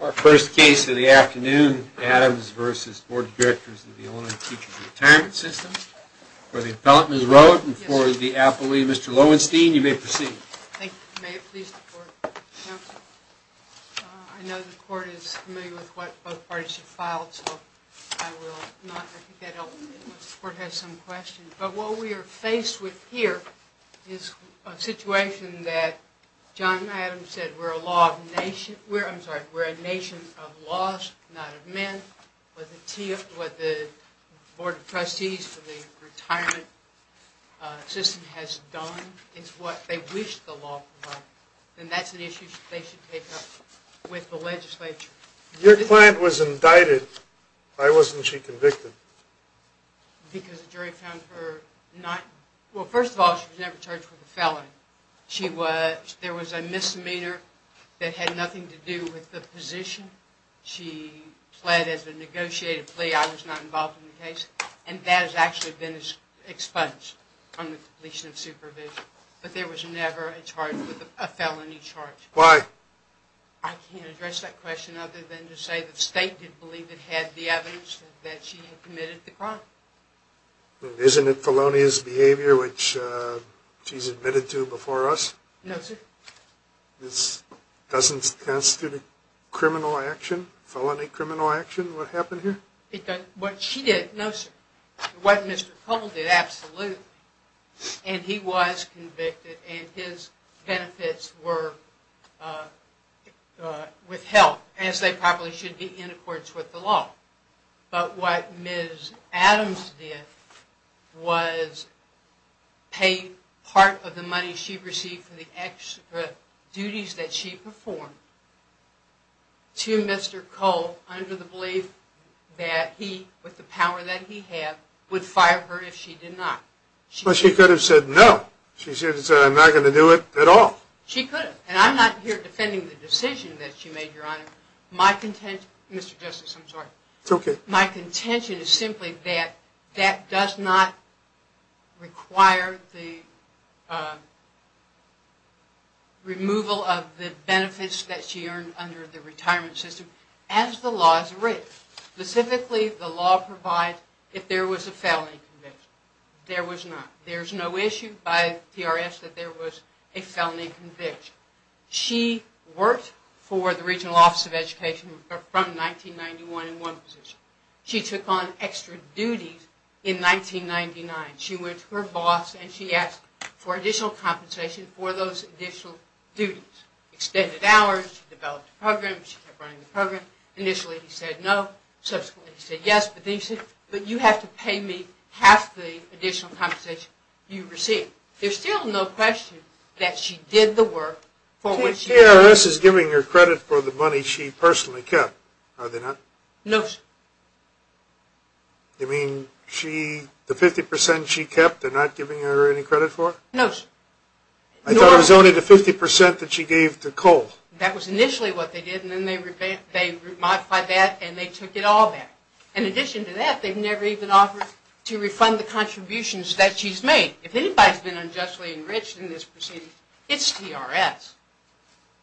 Our first case of the afternoon, Adams v. Board of Directors of the Illinois Teachers Retirement System. For the appellant, Ms. Rowe, and for the appellee, Mr. Lowenstein, you may proceed. Thank you. May it please the court, counsel? I know the court is familiar with what both parties have filed, so I will not— I think that'll—the court has some questions. But what we are faced with here is a situation that John Adams said where a law of nation—I'm sorry, where a nation of laws, not of men. What the Board of Trustees for the retirement system has done is what they wish the law provided. And that's an issue they should take up with the legislature. Your client was indicted. Why wasn't she convicted? Because the jury found her not—well, first of all, she was never charged with a felony. She was—there was a misdemeanor that had nothing to do with the position. She pled as a negotiated plea. I was not involved in the case. And that has actually been expunged from the completion of supervision. But there was never a charge—a felony charge. Why? I can't address that question other than to say the state did believe it had the evidence that she had committed the crime. Isn't it felonious behavior, which she's admitted to before us? No, sir. This doesn't constitute a criminal action, felony criminal action, what happened here? It doesn't. What she did—no, sir. What Mr. Poble did, absolutely. And he was convicted, and his benefits were withheld, as they probably should be in accordance with the law. But what Ms. Adams did was pay part of the money she received for the extra duties that she performed to Mr. Cole under the belief that he, with the power that he had, would fire her if she did not. Well, she could have said no. She should have said, I'm not going to do it at all. She could have. And I'm not here defending the decision that she made, Your Honor. My contention—Mr. Justice, I'm sorry. It's okay. My contention is simply that that does not require the removal of the benefits that she earned under the retirement system as the law is written. Specifically, the law provides if there was a felony conviction. There was not. There's no issue by TRS that there was a felony conviction. She worked for the Regional Office of Education from 1991 in one position. She took on extra duties in 1999. She went to her boss, and she asked for additional compensation for those additional duties. Extended hours, she developed a program, she kept running the program. Initially, he said no. Subsequently, he said yes. But then he said, but you have to pay me half the additional compensation you received. There's still no question that she did the work for which— TRS is giving her credit for the money she personally kept, are they not? No, sir. You mean the 50% she kept, they're not giving her any credit for? No, sir. I thought it was only the 50% that she gave to COLE. That was initially what they did, and then they modified that, and they took it all back. In addition to that, they've never even offered to refund the contributions that she's made. If anybody's been unjustly enriched in this proceeding, it's TRS.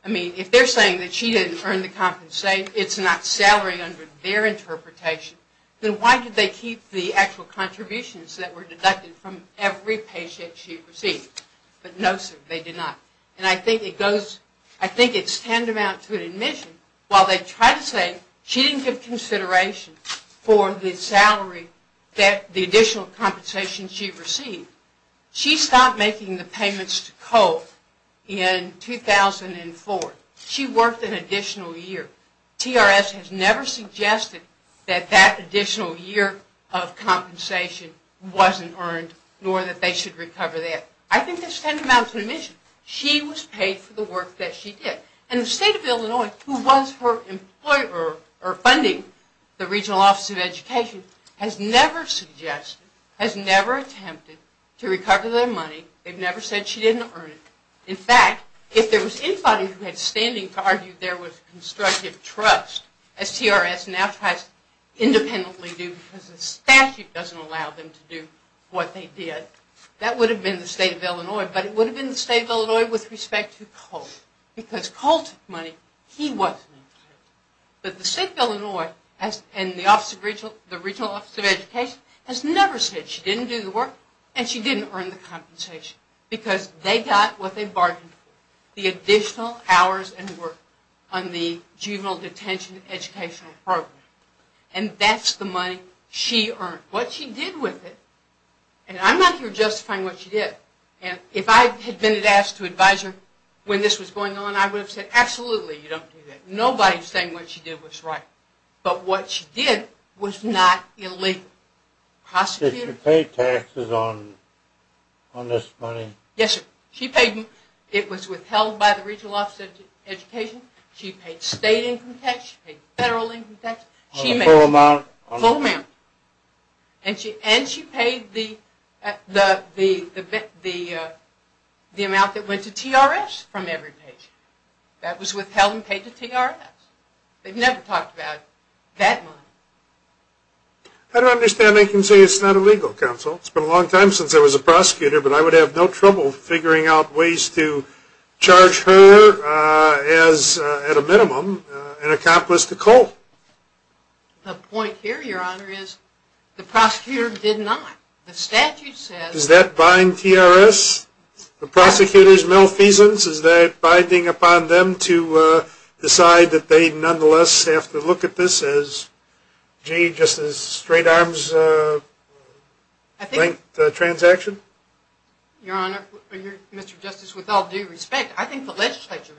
I mean, if they're saying that she didn't earn the compensation, it's not salary under their interpretation, then why did they keep the actual contributions that were deducted from every paycheck she received? But no, sir, they did not. And I think it goes— I think it's tantamount to an admission, while they try to say she didn't give consideration for the additional compensation she received, she stopped making the payments to COLE in 2004. She worked an additional year. TRS has never suggested that that additional year of compensation wasn't earned, nor that they should recover that. I think that's tantamount to an admission. She was paid for the work that she did. And the state of Illinois, who was her employer or funding the regional office of education, has never suggested, has never attempted to recover their money. They've never said she didn't earn it. In fact, if there was anybody who had standing to argue there was constructive trust, as TRS now tries to independently do because the statute doesn't allow them to do what they did, that would have been the state of Illinois. Because COLE took money, he wasn't included. But the state of Illinois and the regional office of education has never said she didn't do the work and she didn't earn the compensation because they got what they bargained for, the additional hours and work on the juvenile detention educational program. And that's the money she earned. What she did with it, and I'm not here justifying what she did, and if I had been asked to advise her when this was going on, I would have said, absolutely, you don't do that. Nobody's saying what she did was right. But what she did was not illegal. Prosecutors... Did she pay taxes on this money? Yes, sir. She paid them. It was withheld by the regional office of education. She paid state income tax, she paid federal income tax. On a full amount? Full amount. And she paid the amount that went to TRS from every patient. That was withheld and paid to TRS. They've never talked about that money. I don't understand they can say it's not illegal, counsel. It's been a long time since I was a prosecutor, but I would have no trouble figuring out ways to charge her as, at a minimum, an accomplice to COLE. The point here, your honor, is the prosecutor did not. The statute says... Does that bind TRS? The prosecutor's malfeasance? Is that binding upon them to decide that they nonetheless have to look at this as, gee, just a straight-arms-length transaction? Your honor, Mr. Justice, with all due respect, I think the legislature,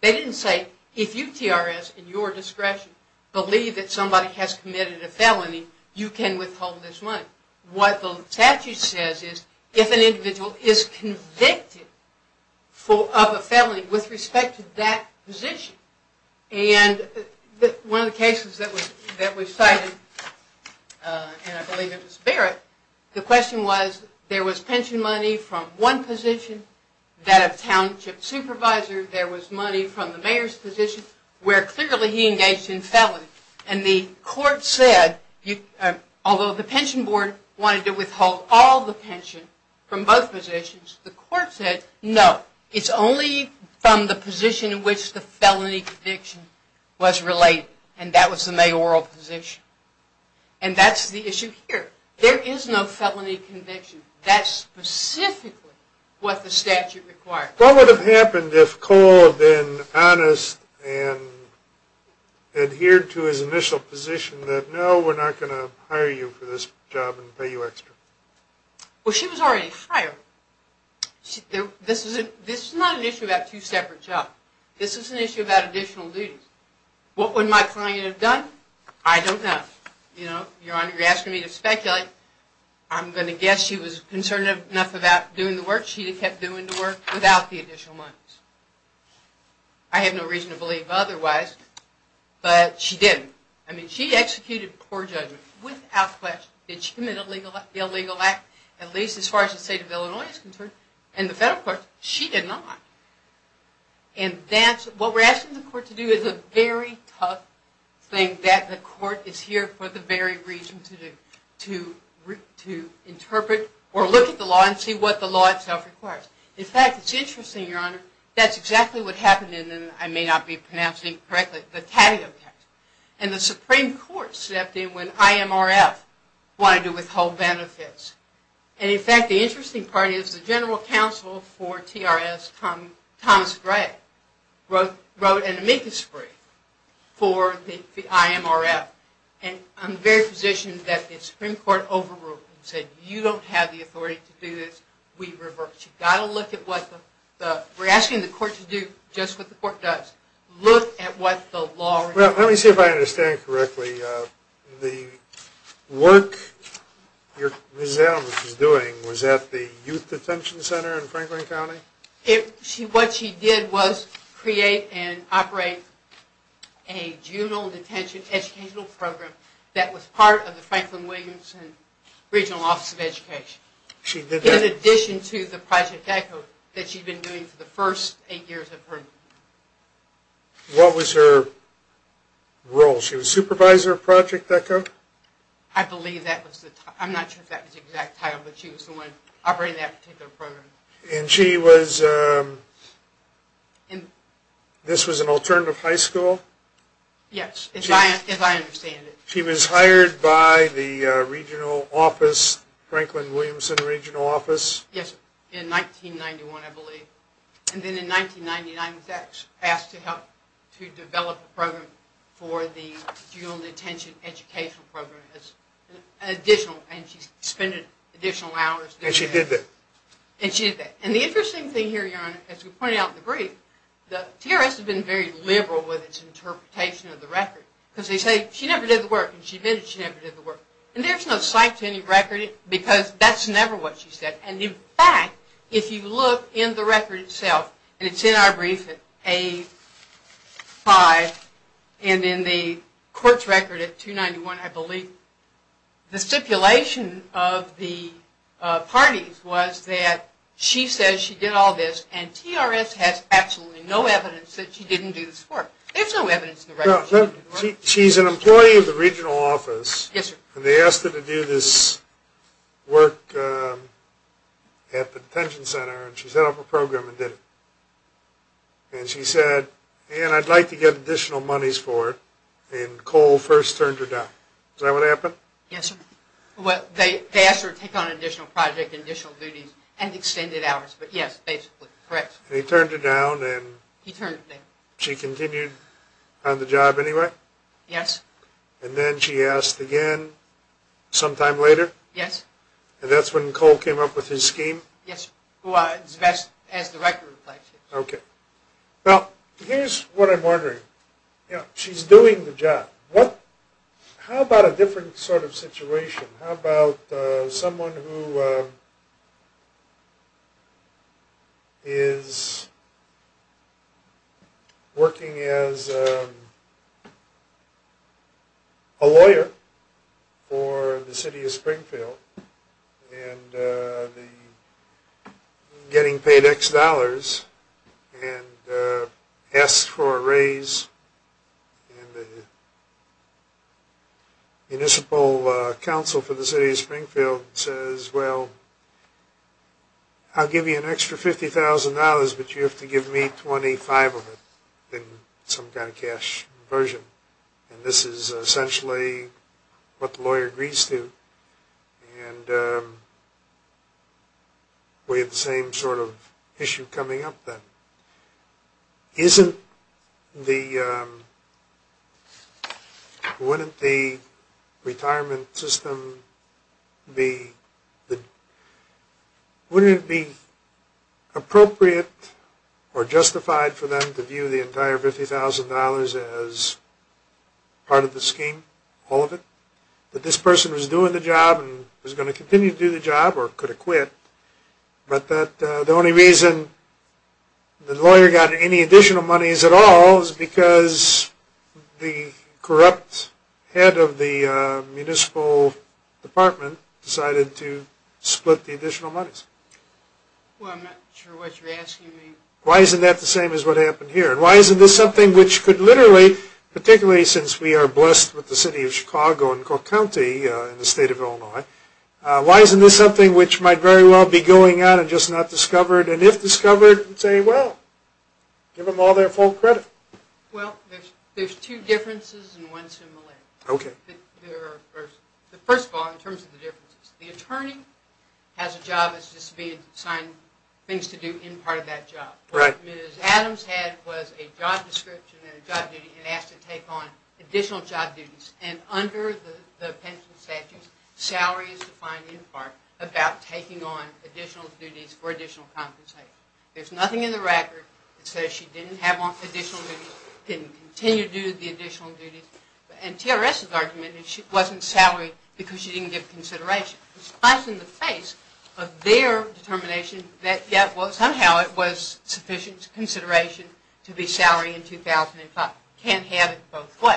they didn't say, if you, TRS, in your discretion, believe that somebody has committed a felony, you can withhold this money. What the statute says is, if an individual is convicted of a felony with respect to that position, and one of the cases that we cited, and I believe it was Barrett, the question was, there was pension money from one position, that of township supervisor, there was money from the mayor's position, where clearly he engaged in felony. And the court said, although the pension board wanted to withhold all the pension from both positions, the court said, no, it's only from the position in which the felony conviction was related, and that was the mayoral position. And that's the issue here. There is no felony conviction. That's specifically what the statute requires. What would have happened if Cole had been honest and adhered to his initial position that, no, we're not going to hire you for this job and pay you extra? Well, she was already hired. This is not an issue about two separate jobs. This is an issue about additional duties. What would my client have done? I don't know. You know, your honor, you're asking me to speculate. I'm going to guess she was concerned enough about doing the work. She would have kept doing the work without the additional monies. I have no reason to believe otherwise, but she didn't. I mean, she executed poor judgment without question. Did she commit an illegal act, at least as far as the state of Illinois is concerned? In the federal courts, she did not. And what we're asking the court to do is a very tough thing that the court is here for the very reason to do, to interpret or look at the law and see what the law itself requires. In fact, it's interesting, your honor, that's exactly what happened in the, I may not be pronouncing it correctly, the Tatio case. And the Supreme Court stepped in when IMRF wanted to withhold benefits. And in fact, the interesting part is the general counsel for TRS, Thomas Gray, wrote an amicus brief for the IMRF. And I'm very positioned that the Supreme Court overruled it and said, you don't have the authority to do this. We reversed it. You've got to look at what the, we're asking the court to do just what the court does. Look at what the law requires. Well, let me see if I understand correctly. The work Ms. Adams was doing was at the Youth Detention Center in Franklin County? What she did was create and operate a juvenile detention educational program that was part of the Franklin Williamson Regional Office of Education. She did that? In addition to the Project ECHO that she'd been doing for the first eight years of her life. What was her role? She was supervisor of Project ECHO? I believe that was the, I'm not sure if that was the exact title, but she was the one operating that particular program. And she was, this was an alternative high school? Yes, as I understand it. She was hired by the regional office, Franklin Williamson Regional Office? Yes, in 1991, I believe. And then in 1999, was asked to help to develop a program for the juvenile detention educational program as an additional, and she spent additional hours. And she did that? And she did that. And the interesting thing here, Your Honor, as we pointed out in the brief, the TRS has been very liberal with its interpretation of the record. Because they say she never did the work, and she admitted she never did the work. And there's no cite to any record, because that's never what she said. And in fact, if you look in the record itself, and it's in our brief at page 5, and in the court's record at 291, I believe, the stipulation of the parties was that she says she did all this, and TRS has absolutely no evidence that she didn't do this work. There's no evidence in the record that she didn't do the work. She's an employee of the regional office, and they asked her to do this work at the detention center, and she set up a program and did it. And she said, Ann, I'd like to get additional monies for it, and Cole first turned her down. Is that what happened? Yes, sir. Well, they asked her to take on additional projects, additional duties, and extended hours. But yes, basically. Correct. And he turned her down, and she continued on the job anyway? Yes. And then she asked again sometime later? Yes. And that's when Cole came up with his scheme? Yes, sir. Well, as the record reflects. Okay. Now, here's what I'm wondering. She's doing the job. How about a different sort of situation? How about someone who is working as a lawyer for the city of Springfield and getting paid X dollars and asks for a raise, and the municipal council for the city of Springfield says, well, I'll give you an extra $50,000, but you have to give me 25 of it in some kind of cash version. And this is essentially what the lawyer agrees to. And we have the same sort of issue coming up then. Wouldn't it be appropriate or justified for them to view the entire $50,000 as part of the scheme, all of it? That this person was doing the job and was going to continue to do the job or could have quit, but that the only reason the lawyer got any additional monies at all is because the corrupt head of the municipal department decided to split the additional monies. Well, I'm not sure what you're asking me. Why isn't that the same as what happened here? And why isn't this something which could literally, particularly since we are blessed with the city of Chicago and Clark County in the state of Illinois, why isn't this something which might very well be going on and just not discovered? And if discovered, say, well, give them all their full credit. Well, there's two differences and one similarity. Okay. First of all, in terms of the differences, the attorney has a job as just being assigned things to do in part of that job. What Ms. Adams had was a job description and a job duty and asked to take on additional job duties. And under the pension statutes, salary is defined in part about taking on additional duties for additional compensation. There's nothing in the record that says she didn't have additional duties, didn't continue to do the additional duties. And TRS's argument is she wasn't salaried because she didn't give consideration. It's nice in the face of their determination that somehow it was sufficient consideration to be salaried in 2005. Can't have it both ways.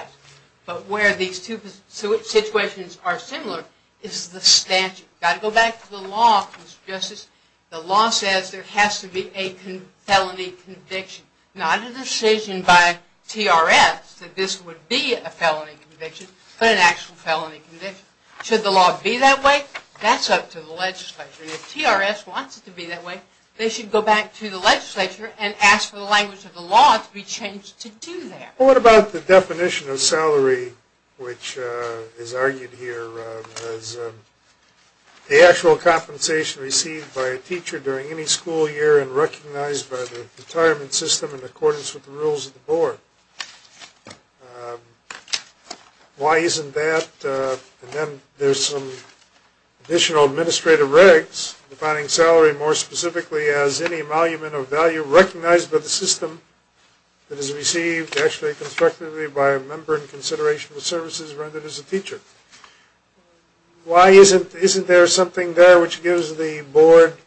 But where these two situations are similar is the statute. Got to go back to the law, Mr. Justice. The law says there has to be a felony conviction. Not a decision by TRS that this would be a felony conviction, but an actual felony conviction. Should the law be that way, that's up to the legislature. If TRS wants it to be that way, they should go back to the legislature and ask for the language of the law to be changed to do that. Well, what about the definition of salary which is argued here as the actual compensation received by a teacher during any school year and recognized by the retirement system in accordance with the rules of the board. Why isn't that? And then there's some additional administrative regs defining salary more specifically as any emolument of value recognized by the system that is received actually constructively by a member in consideration of the services rendered as a teacher. Why isn't there something there which gives the board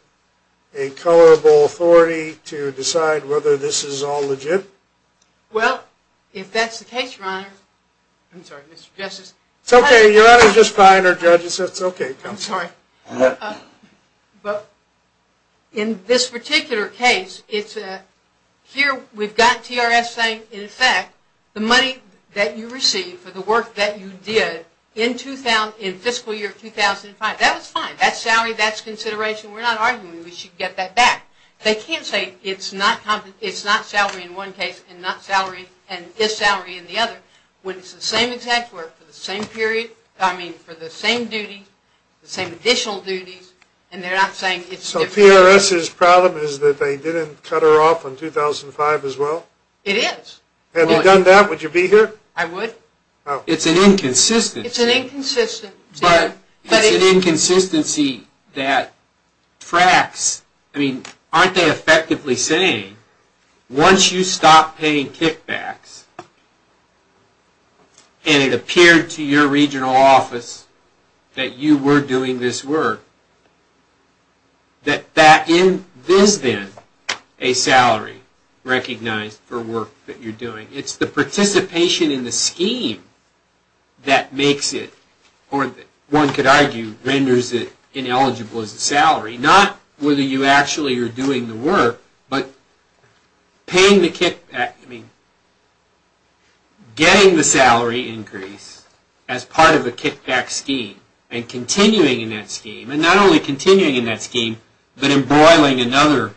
a colorable authority to decide whether this is all legit? Well, if that's the case, Your Honor. I'm sorry, Mr. Justice. It's okay, Your Honor. It's just behind our judges. It's okay. I'm sorry. But in this particular case, here we've got TRS saying, in effect, the money that you received for the work that you did in fiscal year 2005, that was fine. That's salary, that's consideration. We're not arguing we should get that back. They can't say it's not salary in one case and not salary and this salary in the other when it's the same exact work for the same period, I mean, for the same duties, the same additional duties, and they're not saying it's different. So TRS's problem is that they didn't cut her off on 2005 as well? It is. Had they done that, would you be here? I would. It's an inconsistency. It's an inconsistency. But it's an inconsistency that tracks, I mean, aren't they effectively saying, once you stop paying kickbacks and it appeared to your regional office that you were doing this work, that that is then a salary recognized for work that you're doing. It's the participation in the scheme that makes it or one could argue renders it ineligible as a salary. Not whether you actually are doing the work, but paying the kickback, I mean, getting the salary increase as part of a kickback scheme and continuing in that scheme, and not only continuing in that scheme, but embroiling another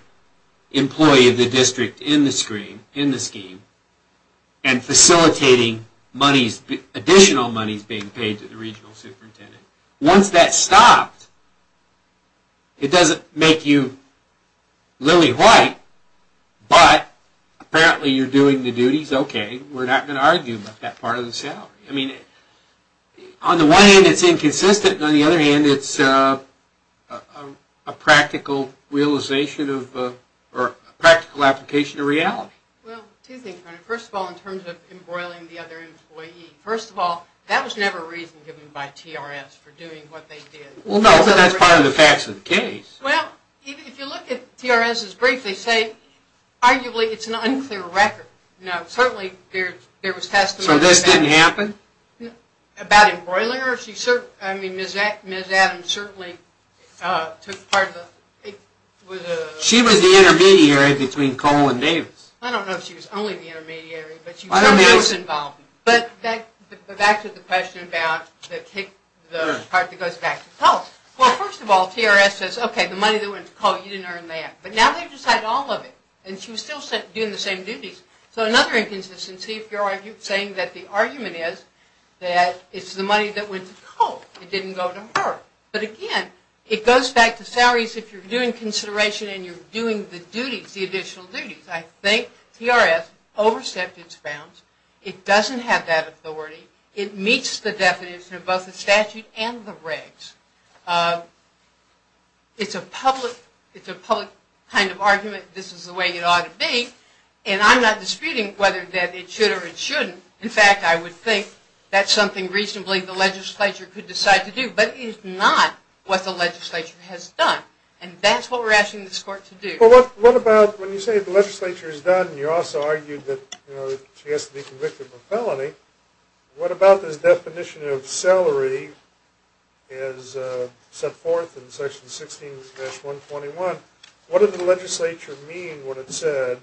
employee of the district in the scheme and facilitating additional monies being paid to the regional superintendent. Once that's stopped, it doesn't make you lily white, but apparently you're doing the duties, okay, we're not going to argue about that part of the salary. I mean, on the one hand, it's inconsistent, and on the other hand, it's a practical application of reality. Well, two things. First of all, in terms of embroiling the other employee, first of all, that was never a reason given by TRS for doing what they did. Well, no, but that's part of the facts of the case. Well, if you look at TRS's brief, they say, arguably, it's an unclear record. Now, certainly, there was testimony... So this didn't happen? About embroiling her? I mean, Ms. Adams certainly took part of the... She was the intermediary between Cole and Davis. I don't know if she was only the intermediary, but she certainly was involved. But back to the question about the part that goes back to Cole. Well, first of all, TRS says, okay, the money that went to Cole, you didn't earn that. But now they've just had all of it, and she was still doing the same duties. So another inconsistency, if you're saying that the argument is that it's the money that went to Cole, it didn't go to her. But again, it goes back to salaries, if you're doing consideration and you're doing the duties, the additional duties. I think TRS overstepped its bounds. It doesn't have that authority. It meets the definition of both the statute and the regs. It's a public kind of argument. This is the way it ought to be. And I'm not disputing whether it should or it shouldn't. In fact, I would think that's something reasonably the legislature could decide to do. But it is not what the legislature has done. And that's what we're asking this court to do. Well, what about when you say the legislature has done, and you also argued that she has to be convicted of a felony, what about this definition of salary as set forth in Section 16-121? What did the legislature mean when it said,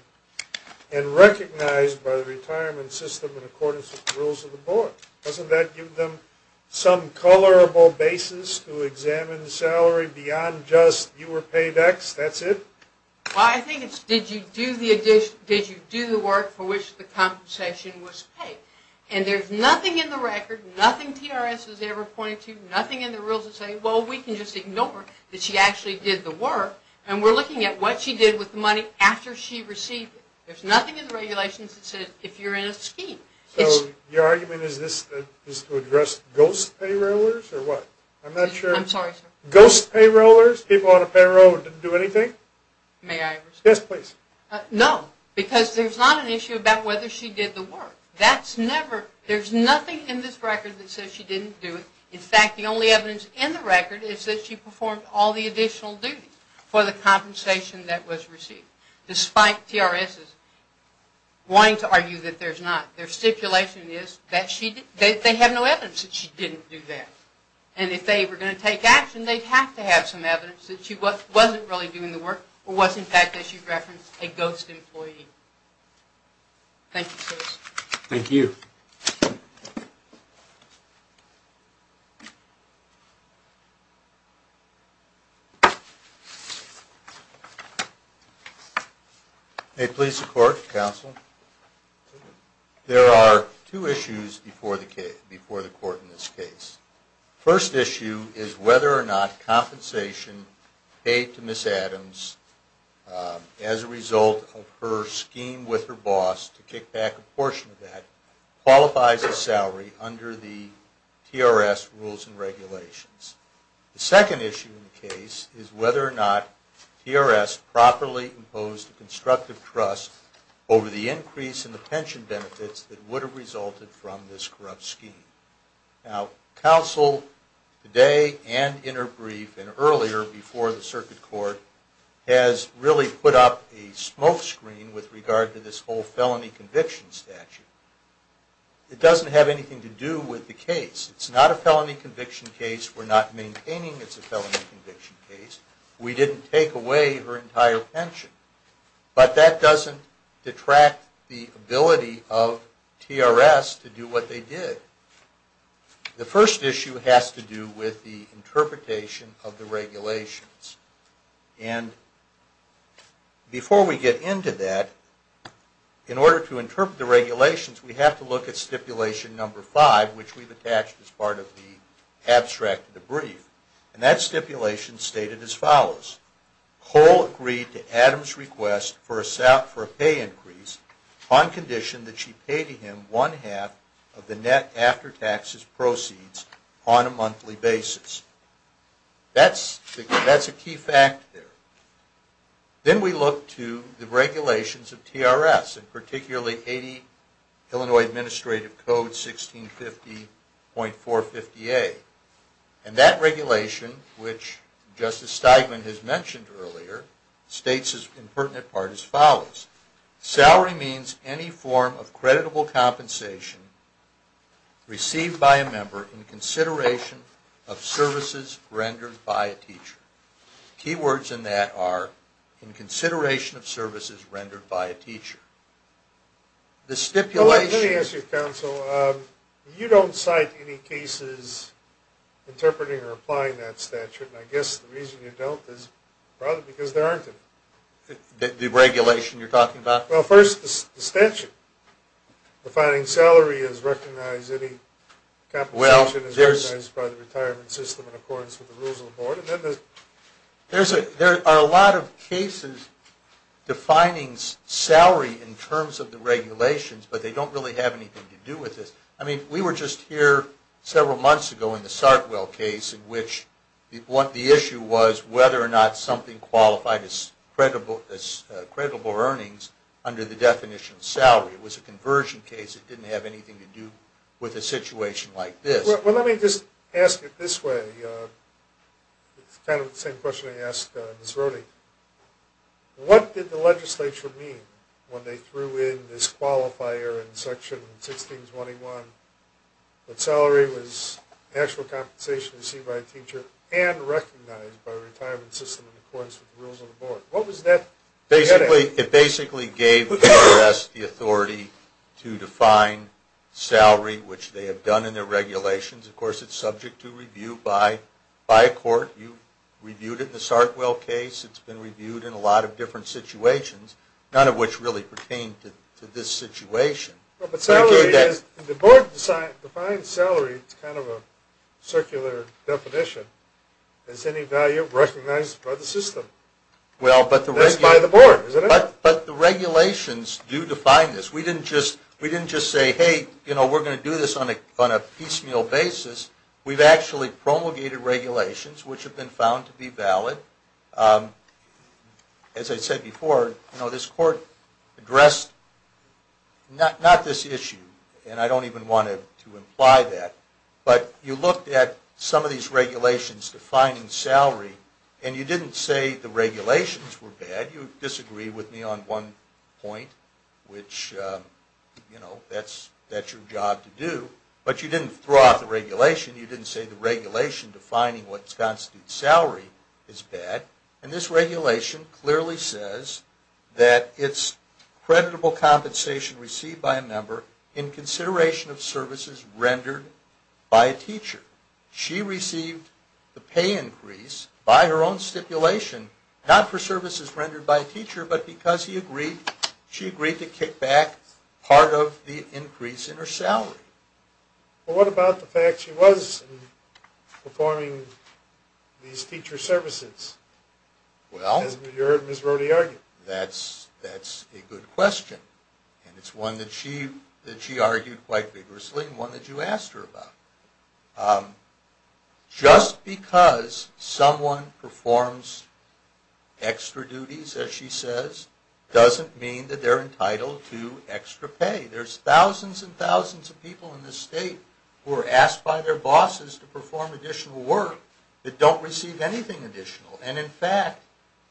and recognized by the retirement system in accordance with the rules of the board? Doesn't that give them some colorable basis to examine the salary beyond just you were paid X? That's it? Well, I think it's did you do the work for which the compensation was paid? And there's nothing in the record, nothing TRS has ever pointed to, nothing in the rules that say, well, we can just ignore that she actually did the work. And we're looking at what she did with the money after she received it. There's nothing in the regulations that says if you're in a scheme. So your argument is this is to address ghost payrollers, or what? I'm not sure. I'm sorry, sir. Ghost payrollers, people on a payroll who didn't do anything? May I respond? Yes, please. No, because there's not an issue about whether she did the work. There's nothing in this record that says she didn't do it. In fact, the only evidence in the record is that she performed all the additional duties for the compensation that was received, despite TRS wanting to argue that there's not. Their stipulation is that they have no evidence that she didn't do that. And if they were going to take action, they'd have to have some evidence that she wasn't really doing the work or was, in fact, as you referenced, a ghost employee. Thank you, sir. Thank you. May it please the Court, Counsel? There are two issues before the Court in this case. The first issue is whether or not compensation paid to Ms. Adams as a result of her scheme with her boss to kick back a portion of that qualifies as salary under the TRS rules and regulations. The second issue in the case is whether or not TRS properly imposed a constructive trust over the increase in the pension benefits that would have resulted from this corrupt scheme. Now, Counsel, today and in her brief and earlier before the Circuit Court, has really put up a smokescreen with regard to this whole felony conviction statute. It doesn't have anything to do with the case. It's not a felony conviction case. We're not maintaining it's a felony conviction case. We didn't take away her entire pension. But that doesn't detract the ability of TRS to do what they did. The first issue has to do with the interpretation of the regulations. And before we get into that, in order to interpret the regulations, we have to look at stipulation number five, which we've attached as part of the abstract of the brief. And that stipulation stated as follows. Cole agreed to Adams' request for a pay increase on condition that she pay to him one-half of the net after-taxes proceeds on a monthly basis. That's a key fact there. Then we look to the regulations of TRS, and particularly 80 Illinois Administrative Code 1650.458. And that regulation, which Justice Steigman has mentioned earlier, states in pertinent part as follows. Salary means any form of creditable compensation received by a member in consideration of services rendered by a teacher. Key words in that are in consideration of services rendered by a teacher. The stipulation... Let me ask you, counsel. You don't cite any cases interpreting or applying that statute, and I guess the reason you don't is probably because there aren't any. The regulation you're talking about? Well, first, the statute. Defining salary as recognized any compensation as recognized by the retirement system in accordance with the rules of the board. There are a lot of cases defining salary in terms of the regulations, but they don't really have anything to do with this. I mean, we were just here several months ago in the Sartwell case in which the issue was whether or not something qualified as credible earnings under the definition of salary. It was a conversion case. It didn't have anything to do with a situation like this. Well, let me just ask it this way. It's kind of the same question I asked Ms. Rohde. What did the legislature mean when they threw in this qualifier in section 1621 that salary was actual compensation received by a teacher and recognized by the retirement system in accordance with the rules of the board? What was that? It basically gave the U.S. the authority to define salary, which they have done in their regulations. Of course, it's subject to review by a court. You reviewed it in the Sartwell case. It's been reviewed in a lot of different situations, none of which really pertain to this situation. But the board defines salary as kind of a circular definition. Is any value recognized by the system? That's by the board, isn't it? But the regulations do define this. We didn't just say, we're going to do this on a piecemeal basis. We've actually promulgated regulations which have been found to be valid. As I said before, this court addressed not this issue, and I don't even want to imply that, but you looked at some of these regulations defining salary, and you didn't say the regulations were bad. You disagreed with me on one point, which, you know, that's your job to do. But you didn't throw out the regulation. You didn't say the regulation defining what constitutes salary is bad. And this regulation clearly says that it's creditable compensation received by a member in consideration of services rendered by a teacher. She received the pay increase by her own stipulation, not for services rendered by a teacher, but because she agreed to kick back part of the increase in her salary. Well, what about the fact she was performing these teacher services, as you heard Ms. Rode argue? That's a good question. And it's one that she argued quite vigorously, and one that you asked her about. Just because someone performs extra duties, as she says, doesn't mean that they're entitled to extra pay. There's thousands and thousands of people in this state who are asked by their bosses to perform additional work that don't receive anything additional. And in fact,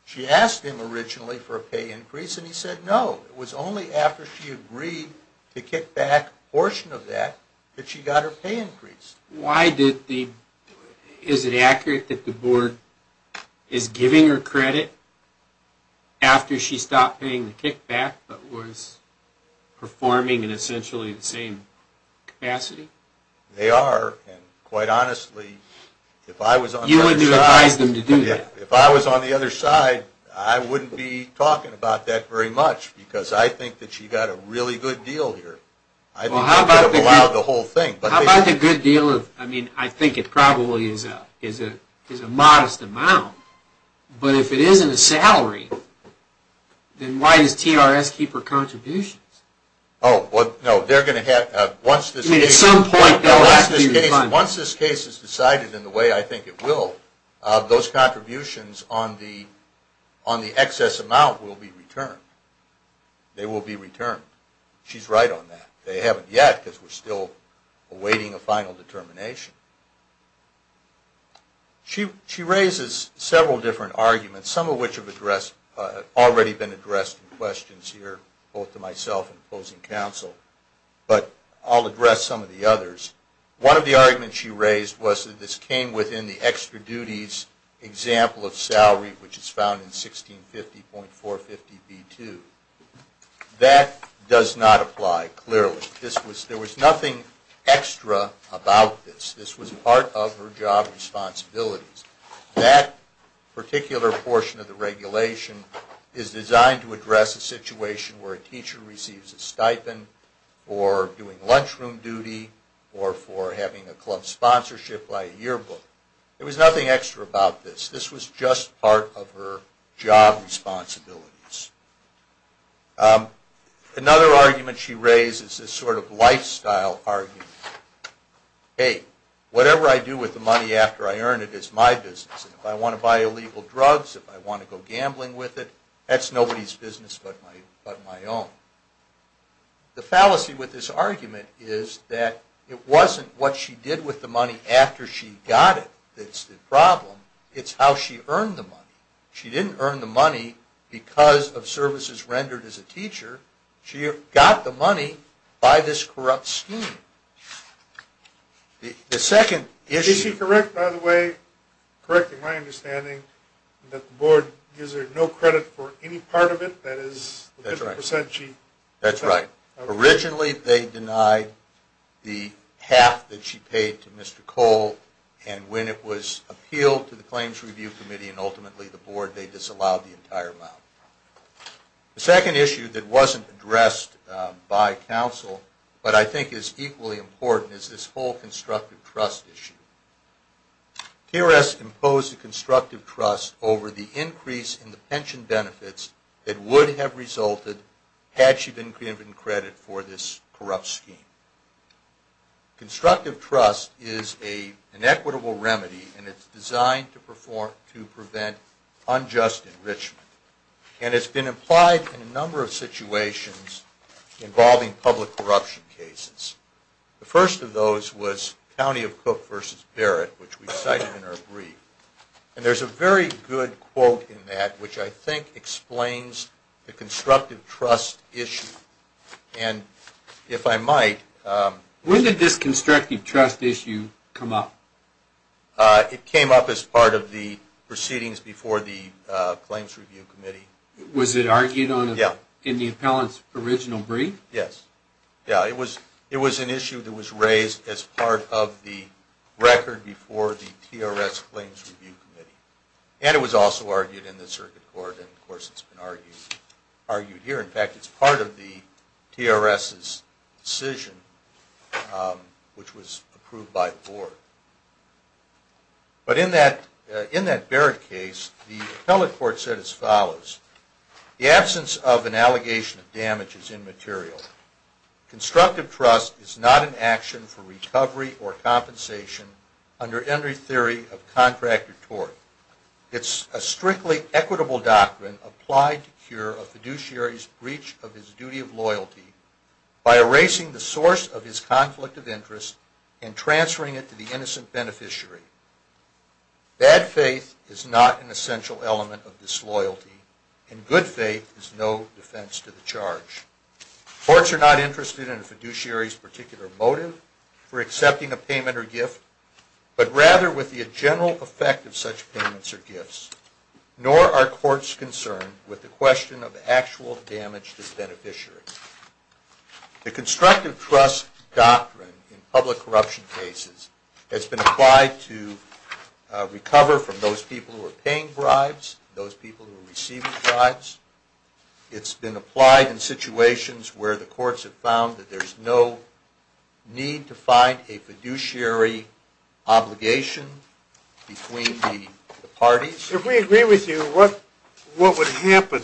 she asked him originally for a pay increase, and he said no. It was only after she agreed to kick back a portion of that that she got her pay increase. Why did the... Is it accurate that the board is giving her credit after she stopped paying the kickback, but was performing in essentially the same capacity? They are. And quite honestly, if I was on their side... You wouldn't advise them to do that? If I was on the other side, I wouldn't be talking about that very much, because I think that she got a really good deal here. I think she could have allowed the whole thing. How about the good deal of... I mean, I think it probably is a modest amount, but if it isn't a salary, then why does TRS keep her contributions? Oh, well, no. They're going to have... At some point, they'll have to be refunded. Once this case is decided in the way I think it will, those contributions on the excess amount will be returned. They will be returned. She's right on that. They haven't yet, because we're still awaiting a final determination. She raises several different arguments, some of which have already been addressed in questions here, both to myself and opposing counsel, but I'll address some of the others. One of the arguments she raised was that this came within the extra duties example of salary, which is found in 1650.450b2. That does not apply clearly. There was nothing extra about this. This was part of her job responsibilities. That particular portion of the regulation is designed to address a situation where a teacher receives a stipend for doing lunchroom duty or for having a club sponsorship by a yearbook. There was nothing extra about this. This was just part of her job responsibilities. Another argument she raised is this sort of lifestyle argument. Hey, whatever I do with the money after I earn it is my business. If I want to buy illegal drugs, if I want to go gambling with it, that's nobody's business but my own. The fallacy with this argument is that it wasn't what she did with the money after she got it that's the problem. It's how she earned the money. She didn't earn the money because of services rendered as a teacher. She got the money by this corrupt scheme. Is she correct, by the way, correcting my understanding, that the board gives her no credit for any part of it? That's right. Originally they denied the half that she paid to Mr. Cole and when it was appealed to the Claims Review Committee and ultimately the board, they disallowed the entire amount. The second issue that wasn't addressed by counsel but I think is equally important is this whole constructive trust issue. TRS imposed a constructive trust over the increase in the pension benefits that would have resulted had she been given credit for this corrupt scheme. Constructive trust is an equitable remedy and it's designed to prevent unjust enrichment and it's been implied in a number of situations involving public corruption cases. The first of those was County of Cook v. Barrett which we cited in our brief and there's a very good quote in that which I think explains the constructive trust issue and if I might... When did this constructive trust issue come up? It came up as part of the proceedings before the Claims Review Committee. Was it argued in the appellant's original brief? Yes. It was an issue that was raised as part of the record before the TRS Claims Review Committee and it was also argued in the circuit court and of course it's been argued here. In fact, it's part of the TRS's decision which was approved by the board. But in that Barrett case, the appellate court said as follows, the absence of an allegation of damage is immaterial. Constructive trust is not an action for recovery or compensation under any theory of contract or tort. It's a strictly equitable doctrine applied to cure a fiduciary's breach of his duty of loyalty by erasing the source of his conflict of interest and transferring it to the innocent beneficiary. Bad faith is not an essential element of disloyalty and good faith is no defense to the charge. Courts are not interested in a fiduciary's particular motive for accepting a payment or gift but rather with the general effect of such payments or gifts. Nor are courts concerned with the question of actual damage to the beneficiary. The constructive trust doctrine in public corruption cases has been applied to recover from those people who are paying bribes, those people who are receiving bribes. It's been applied in situations where the courts have found that there's no need to find a fiduciary obligation between the parties. If we agree with you, what would happen?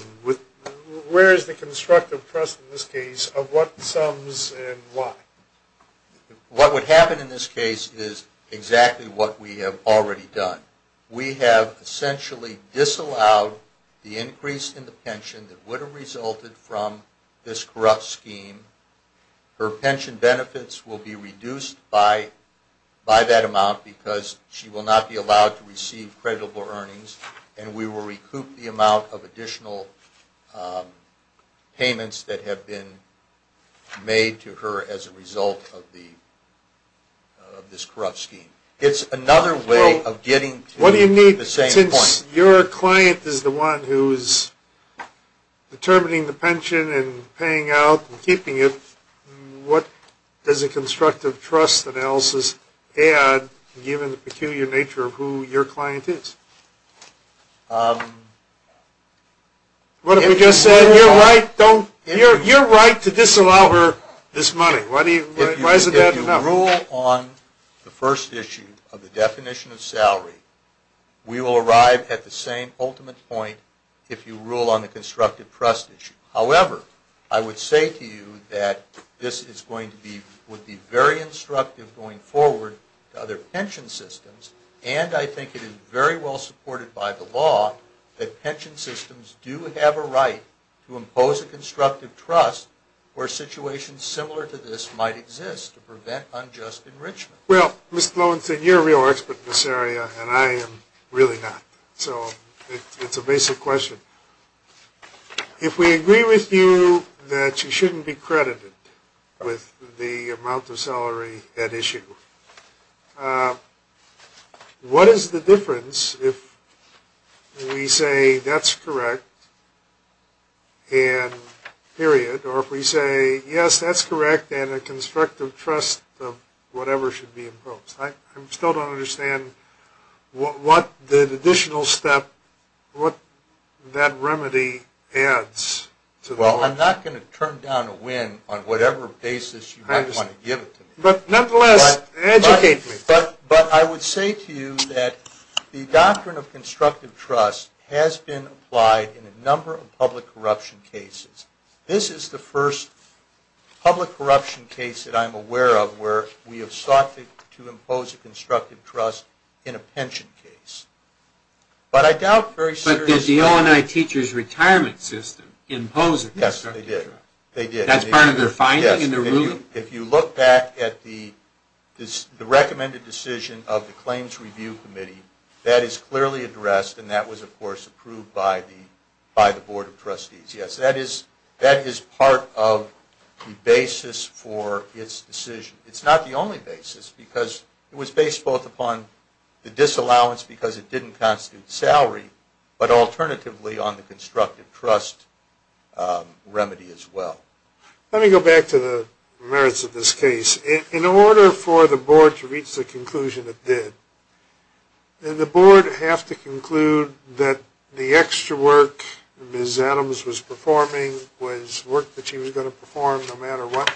Where is the constructive trust in this case of what sums and why? What would happen in this case is exactly what we have already done. We have essentially disallowed the increase in the pension that would have resulted from this corrupt scheme. Her pension benefits will be reduced by that amount because she will not be allowed to receive credible earnings and we will recoup the amount of additional payments that have been made to her as a result of this corrupt scheme. It's another way of getting to the same point. Since your client is the one who is determining the pension and paying out and keeping it, what does a constructive trust analysis add given the peculiar nature of who your client is? You just said you're right to disallow her this money. If you rule on the first issue of the definition of salary, we will arrive at the same ultimate point if you rule on the constructive trust issue. However, I would say to you that this would be very instructive going forward to other pension systems and I think it is very well supported by the law that pension systems do have a right to impose a constructive trust where situations similar to this might exist to prevent unjust enrichment. Well, Mr. Lowenstein, you're a real expert in this area and I am really not. So it's a basic question. If we agree with you that you shouldn't be credited with the amount of salary at issue, what is the difference if we say that's correct and period, or if we say yes, that's correct and a constructive trust of whatever should be imposed? I still don't understand what the additional step, what that remedy adds. Well, I'm not going to turn down a win on whatever basis you might want to give it to me. But nonetheless, educate me. But I would say to you that the doctrine of constructive trust has been applied in a number of public corruption cases. This is the first public corruption case that I'm aware of where we have sought to impose a constructive trust in a pension case. But I doubt very seriously... But did the O&I teacher's retirement system impose a constructive trust? Yes, they did. That's part of their finding in the ruling? If you look back at the recommended decision of the Claims Review Committee, that is clearly addressed and that was, of course, approved by the Board of Trustees. Yes, that is part of the basis for its decision. It's not the only basis because it was based both upon the disallowance because it didn't constitute salary, but alternatively on the constructive trust remedy as well. Let me go back to the merits of this case. In order for the Board to reach the conclusion it did, did the Board have to conclude that the extra work Ms. Adams was performing was work that she was going to perform no matter what?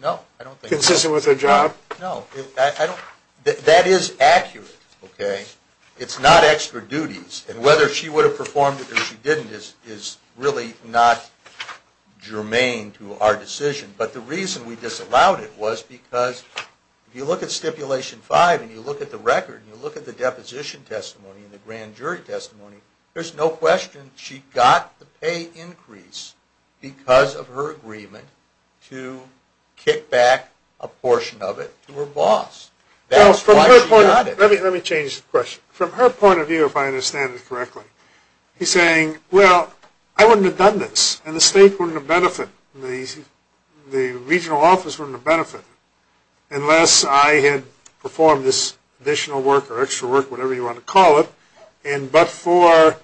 No. Consistent with her job? No. That is accurate. It's not extra duties. And whether she would have performed it or she didn't is really not germane to our decision. But the reason we disallowed it was because if you look at Stipulation 5 and you look at the record and you look at the deposition testimony and the grand jury testimony, there's no question she got the pay increase because of her agreement to kick back a portion of it to her boss. That's why she got it. Let me change the question. From her point of view, if I understand it correctly, he's saying, well, I wouldn't have done this and the state wouldn't have benefited, the regional office wouldn't have benefited, unless I had performed this additional work or extra work, whatever you want to call it, but for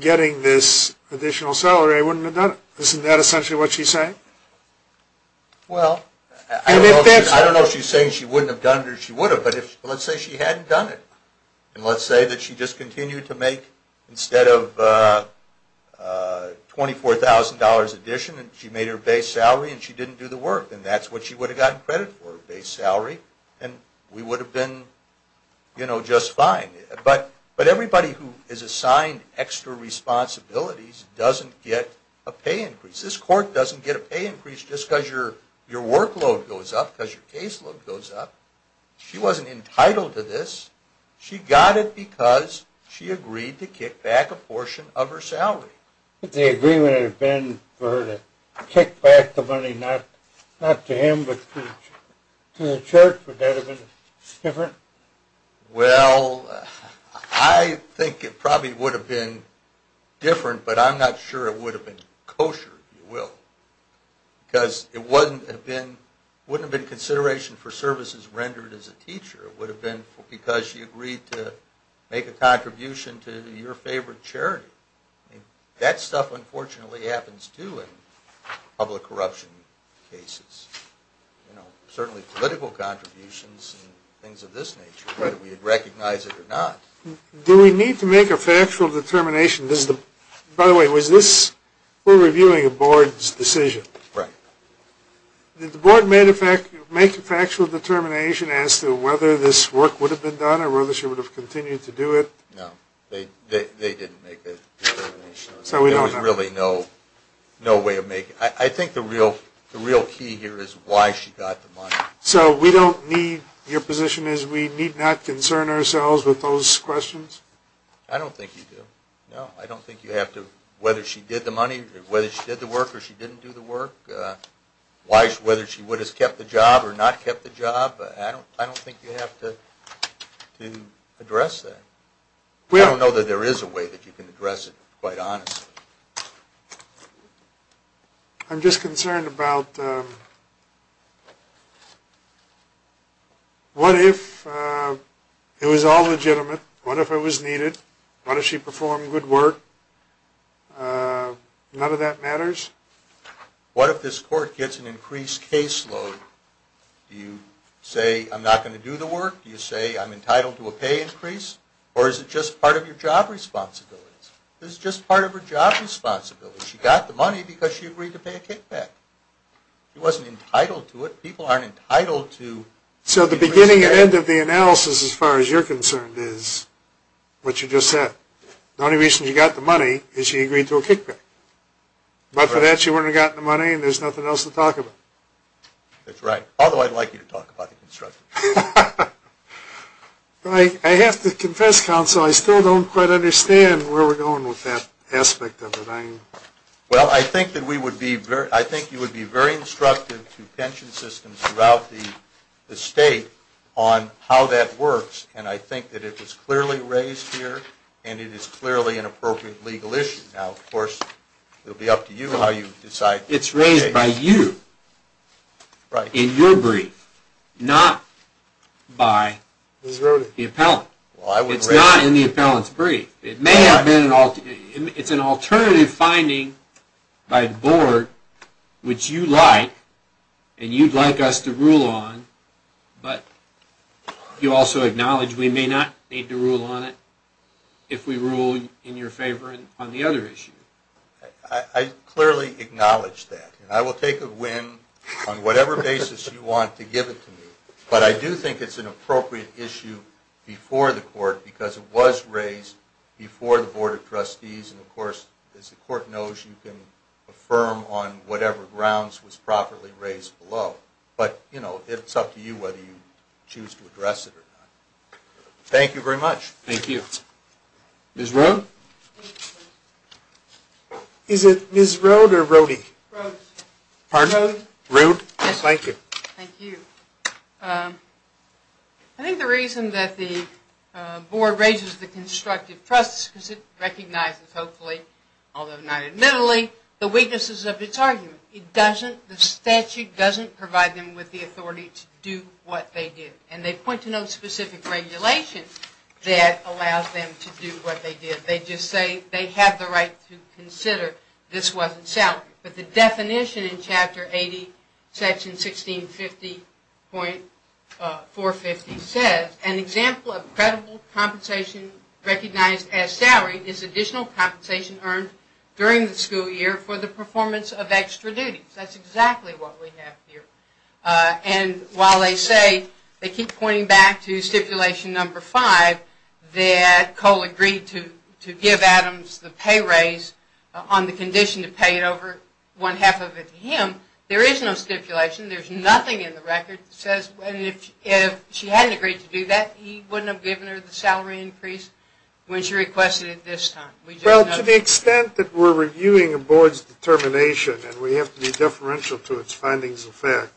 getting this additional salary I wouldn't have done it. Isn't that essentially what she's saying? Well, I don't know if she's saying she wouldn't have done it or she would have, but let's say she hadn't done it. And let's say that she just continued to make, instead of $24,000 addition, she made her base salary and she didn't do the work, and that's what she would have gotten credit for, base salary, and we would have been just fine. But everybody who is assigned extra responsibilities doesn't get a pay increase. This court doesn't get a pay increase just because your workload goes up, because your caseload goes up. She wasn't entitled to this. She got it because she agreed to kick back a portion of her salary. If the agreement had been for her to kick back the money not to him but to the church, would that have been different? Well, I think it probably would have been different, but I'm not sure it would have been kosher, if you will, because it wouldn't have been consideration for services rendered as a teacher. It would have been because she agreed to make a contribution to your favorite charity. That stuff, unfortunately, happens too in public corruption cases, certainly political contributions and things of this nature, whether we recognize it or not. Do we need to make a factual determination? By the way, we're reviewing a board's decision. Right. Did the board make a factual determination as to whether this work would have been done or whether she would have continued to do it? No, they didn't make a determination. So we don't know. There was really no way of making it. I think the real key here is why she got the money. So your position is we need not concern ourselves with those questions? I don't think you do. No, I don't think you have to. Whether she did the work or she didn't do the work, whether she would have kept the job or not kept the job, I don't think you have to address that. I don't know that there is a way that you can address it, quite honestly. I'm just concerned about what if it was all legitimate, what if it was needed, what if she performed good work? None of that matters. What if this court gets an increased caseload? Do you say I'm not going to do the work? Do you say I'm entitled to a pay increase? Or is it just part of your job responsibilities? This is just part of her job responsibilities. She got the money because she agreed to pay a kickback. She wasn't entitled to it. People aren't entitled to... So the beginning and end of the analysis as far as you're concerned is what you just said. The only reason she got the money is she agreed to a kickback. But for that she wouldn't have gotten the money and there's nothing else to talk about. That's right. Although I'd like you to talk about the construction. I have to confess, counsel, I still don't quite understand where we're going with that aspect of it. Well, I think you would be very instructive to pension systems throughout the state on how that works. And I think that it was clearly raised here and it is clearly an appropriate legal issue. Now, of course, it will be up to you how you decide. It's raised by you in your brief, not by the appellant. It's an alternative finding by the board, which you like and you'd like us to rule on. But you also acknowledge we may not need to rule on it if we rule in your favor on the other issue. I clearly acknowledge that. I will take a win on whatever basis you want to give it to me. But I do think it's an appropriate issue before the court because it was raised before the board of trustees. And, of course, as the court knows, you can affirm on whatever grounds was properly raised below. But, you know, it's up to you whether you choose to address it or not. Thank you very much. Thank you. Ms. Rode? Is it Ms. Rode or Rode? Rode. Pardon? Rode. Rode. Thank you. Thank you. I think the reason that the board raises the constructive trust is because it recognizes, hopefully, although not admittedly, the weaknesses of its argument. It doesn't, the statute doesn't provide them with the authority to do what they did. And they point to no specific regulation that allows them to do what they did. They just say they have the right to consider this wasn't sound. But the definition in Chapter 80, Section 1650.450 says, An example of credible compensation recognized as salary is additional compensation earned during the school year for the performance of extra duties. That's exactly what we have here. And while they say, they keep pointing back to stipulation number five, that Cole agreed to give Adams the pay raise on the condition to pay it over one half of it to him. There is no stipulation. There's nothing in the record that says if she hadn't agreed to do that, he wouldn't have given her the salary increase when she requested it this time. Well, to the extent that we're reviewing a board's determination, and we have to be deferential to its findings of fact,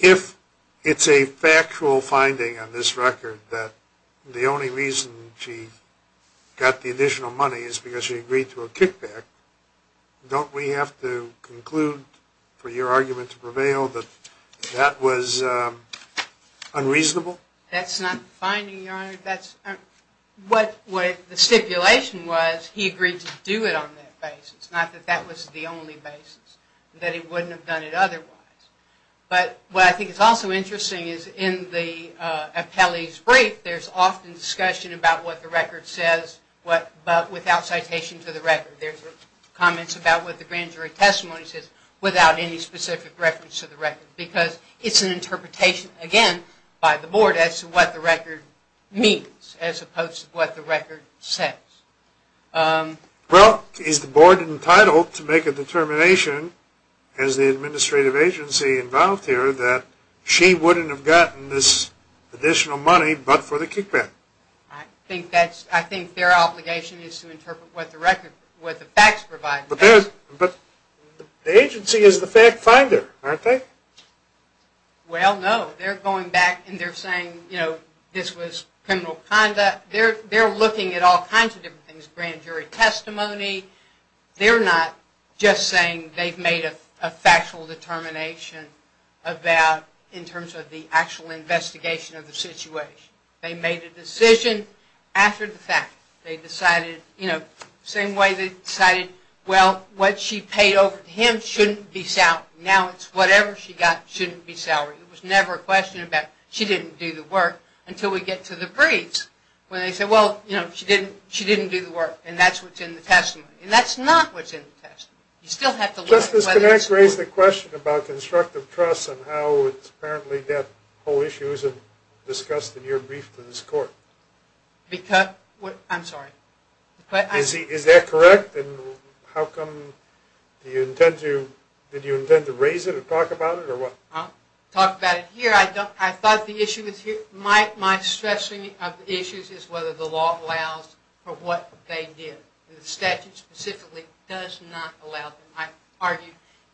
if it's a factual finding on this record that the only reason she got the additional money is because she agreed to a kickback, don't we have to conclude for your argument to prevail that that was unreasonable? No, that's not the finding, Your Honor. The stipulation was he agreed to do it on that basis, not that that was the only basis. That he wouldn't have done it otherwise. But what I think is also interesting is in the appellee's brief, there's often discussion about what the record says, but without citation to the record. There's comments about what the grand jury testimony says without any specific reference to the record. Because it's an interpretation, again, by the board as to what the record means, as opposed to what the record says. Well, is the board entitled to make a determination, as the administrative agency involved here, that she wouldn't have gotten this additional money but for the kickback? I think their obligation is to interpret what the facts provide. But the agency is the fact finder, aren't they? Well, no. They're going back and they're saying, you know, this was criminal conduct. They're looking at all kinds of different things, grand jury testimony. They're not just saying they've made a factual determination in terms of the actual investigation of the situation. They made a decision after the fact. They decided, you know, same way they decided, well, what she paid over to him shouldn't be salaried. Now it's whatever she got shouldn't be salaried. It was never a question about she didn't do the work until we get to the briefs, where they say, well, you know, she didn't do the work, and that's what's in the testimony. And that's not what's in the testimony. You still have to look at whether it's true. Justice, can I raise the question about constructive trust and how it's apparently that whole issue isn't discussed in your brief to this court? I'm sorry. Is that correct? Did you intend to raise it or talk about it or what? I'll talk about it here. I thought the issue was here. My stressing of the issues is whether the law allows for what they did. The statute specifically does not allow them. I argue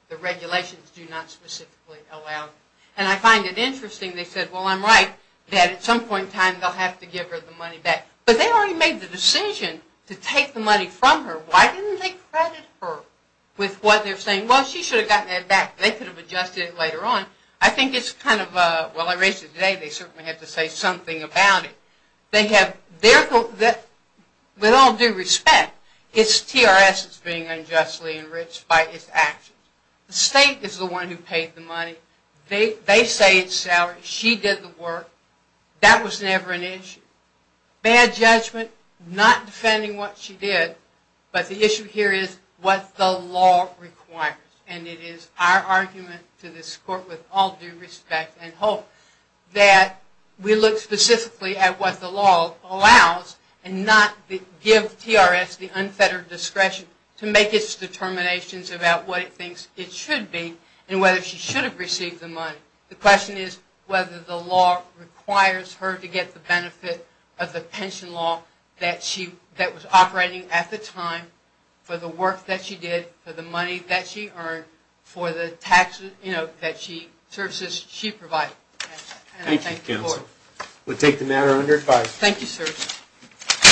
the regulations do not specifically allow them. And I find it interesting they said, well, I'm right, that at some point in time they'll have to give her the money back. But they already made the decision to take the money from her. Why didn't they credit her with what they're saying? Well, she should have gotten it back. They could have adjusted it later on. I think it's kind of a, well, I raised it today. They certainly have to say something about it. They have, with all due respect, it's TRS that's being unjustly enriched by its actions. The state is the one who paid the money. They say it's salary. She did the work. That was never an issue. Bad judgment, not defending what she did. But the issue here is what the law requires. And it is our argument to this court, with all due respect and hope, that we look specifically at what the law allows and not give TRS the unfettered discretion to make its determinations about what it thinks it should be and whether she should have received the money. The question is whether the law requires her to get the benefit of the pension law that was operating at the time for the work that she did, for the money that she earned, for the services she provided. Thank you, counsel. We'll take the matter under advice. Thank you, sir. Thank you. Thank you. You're welcome.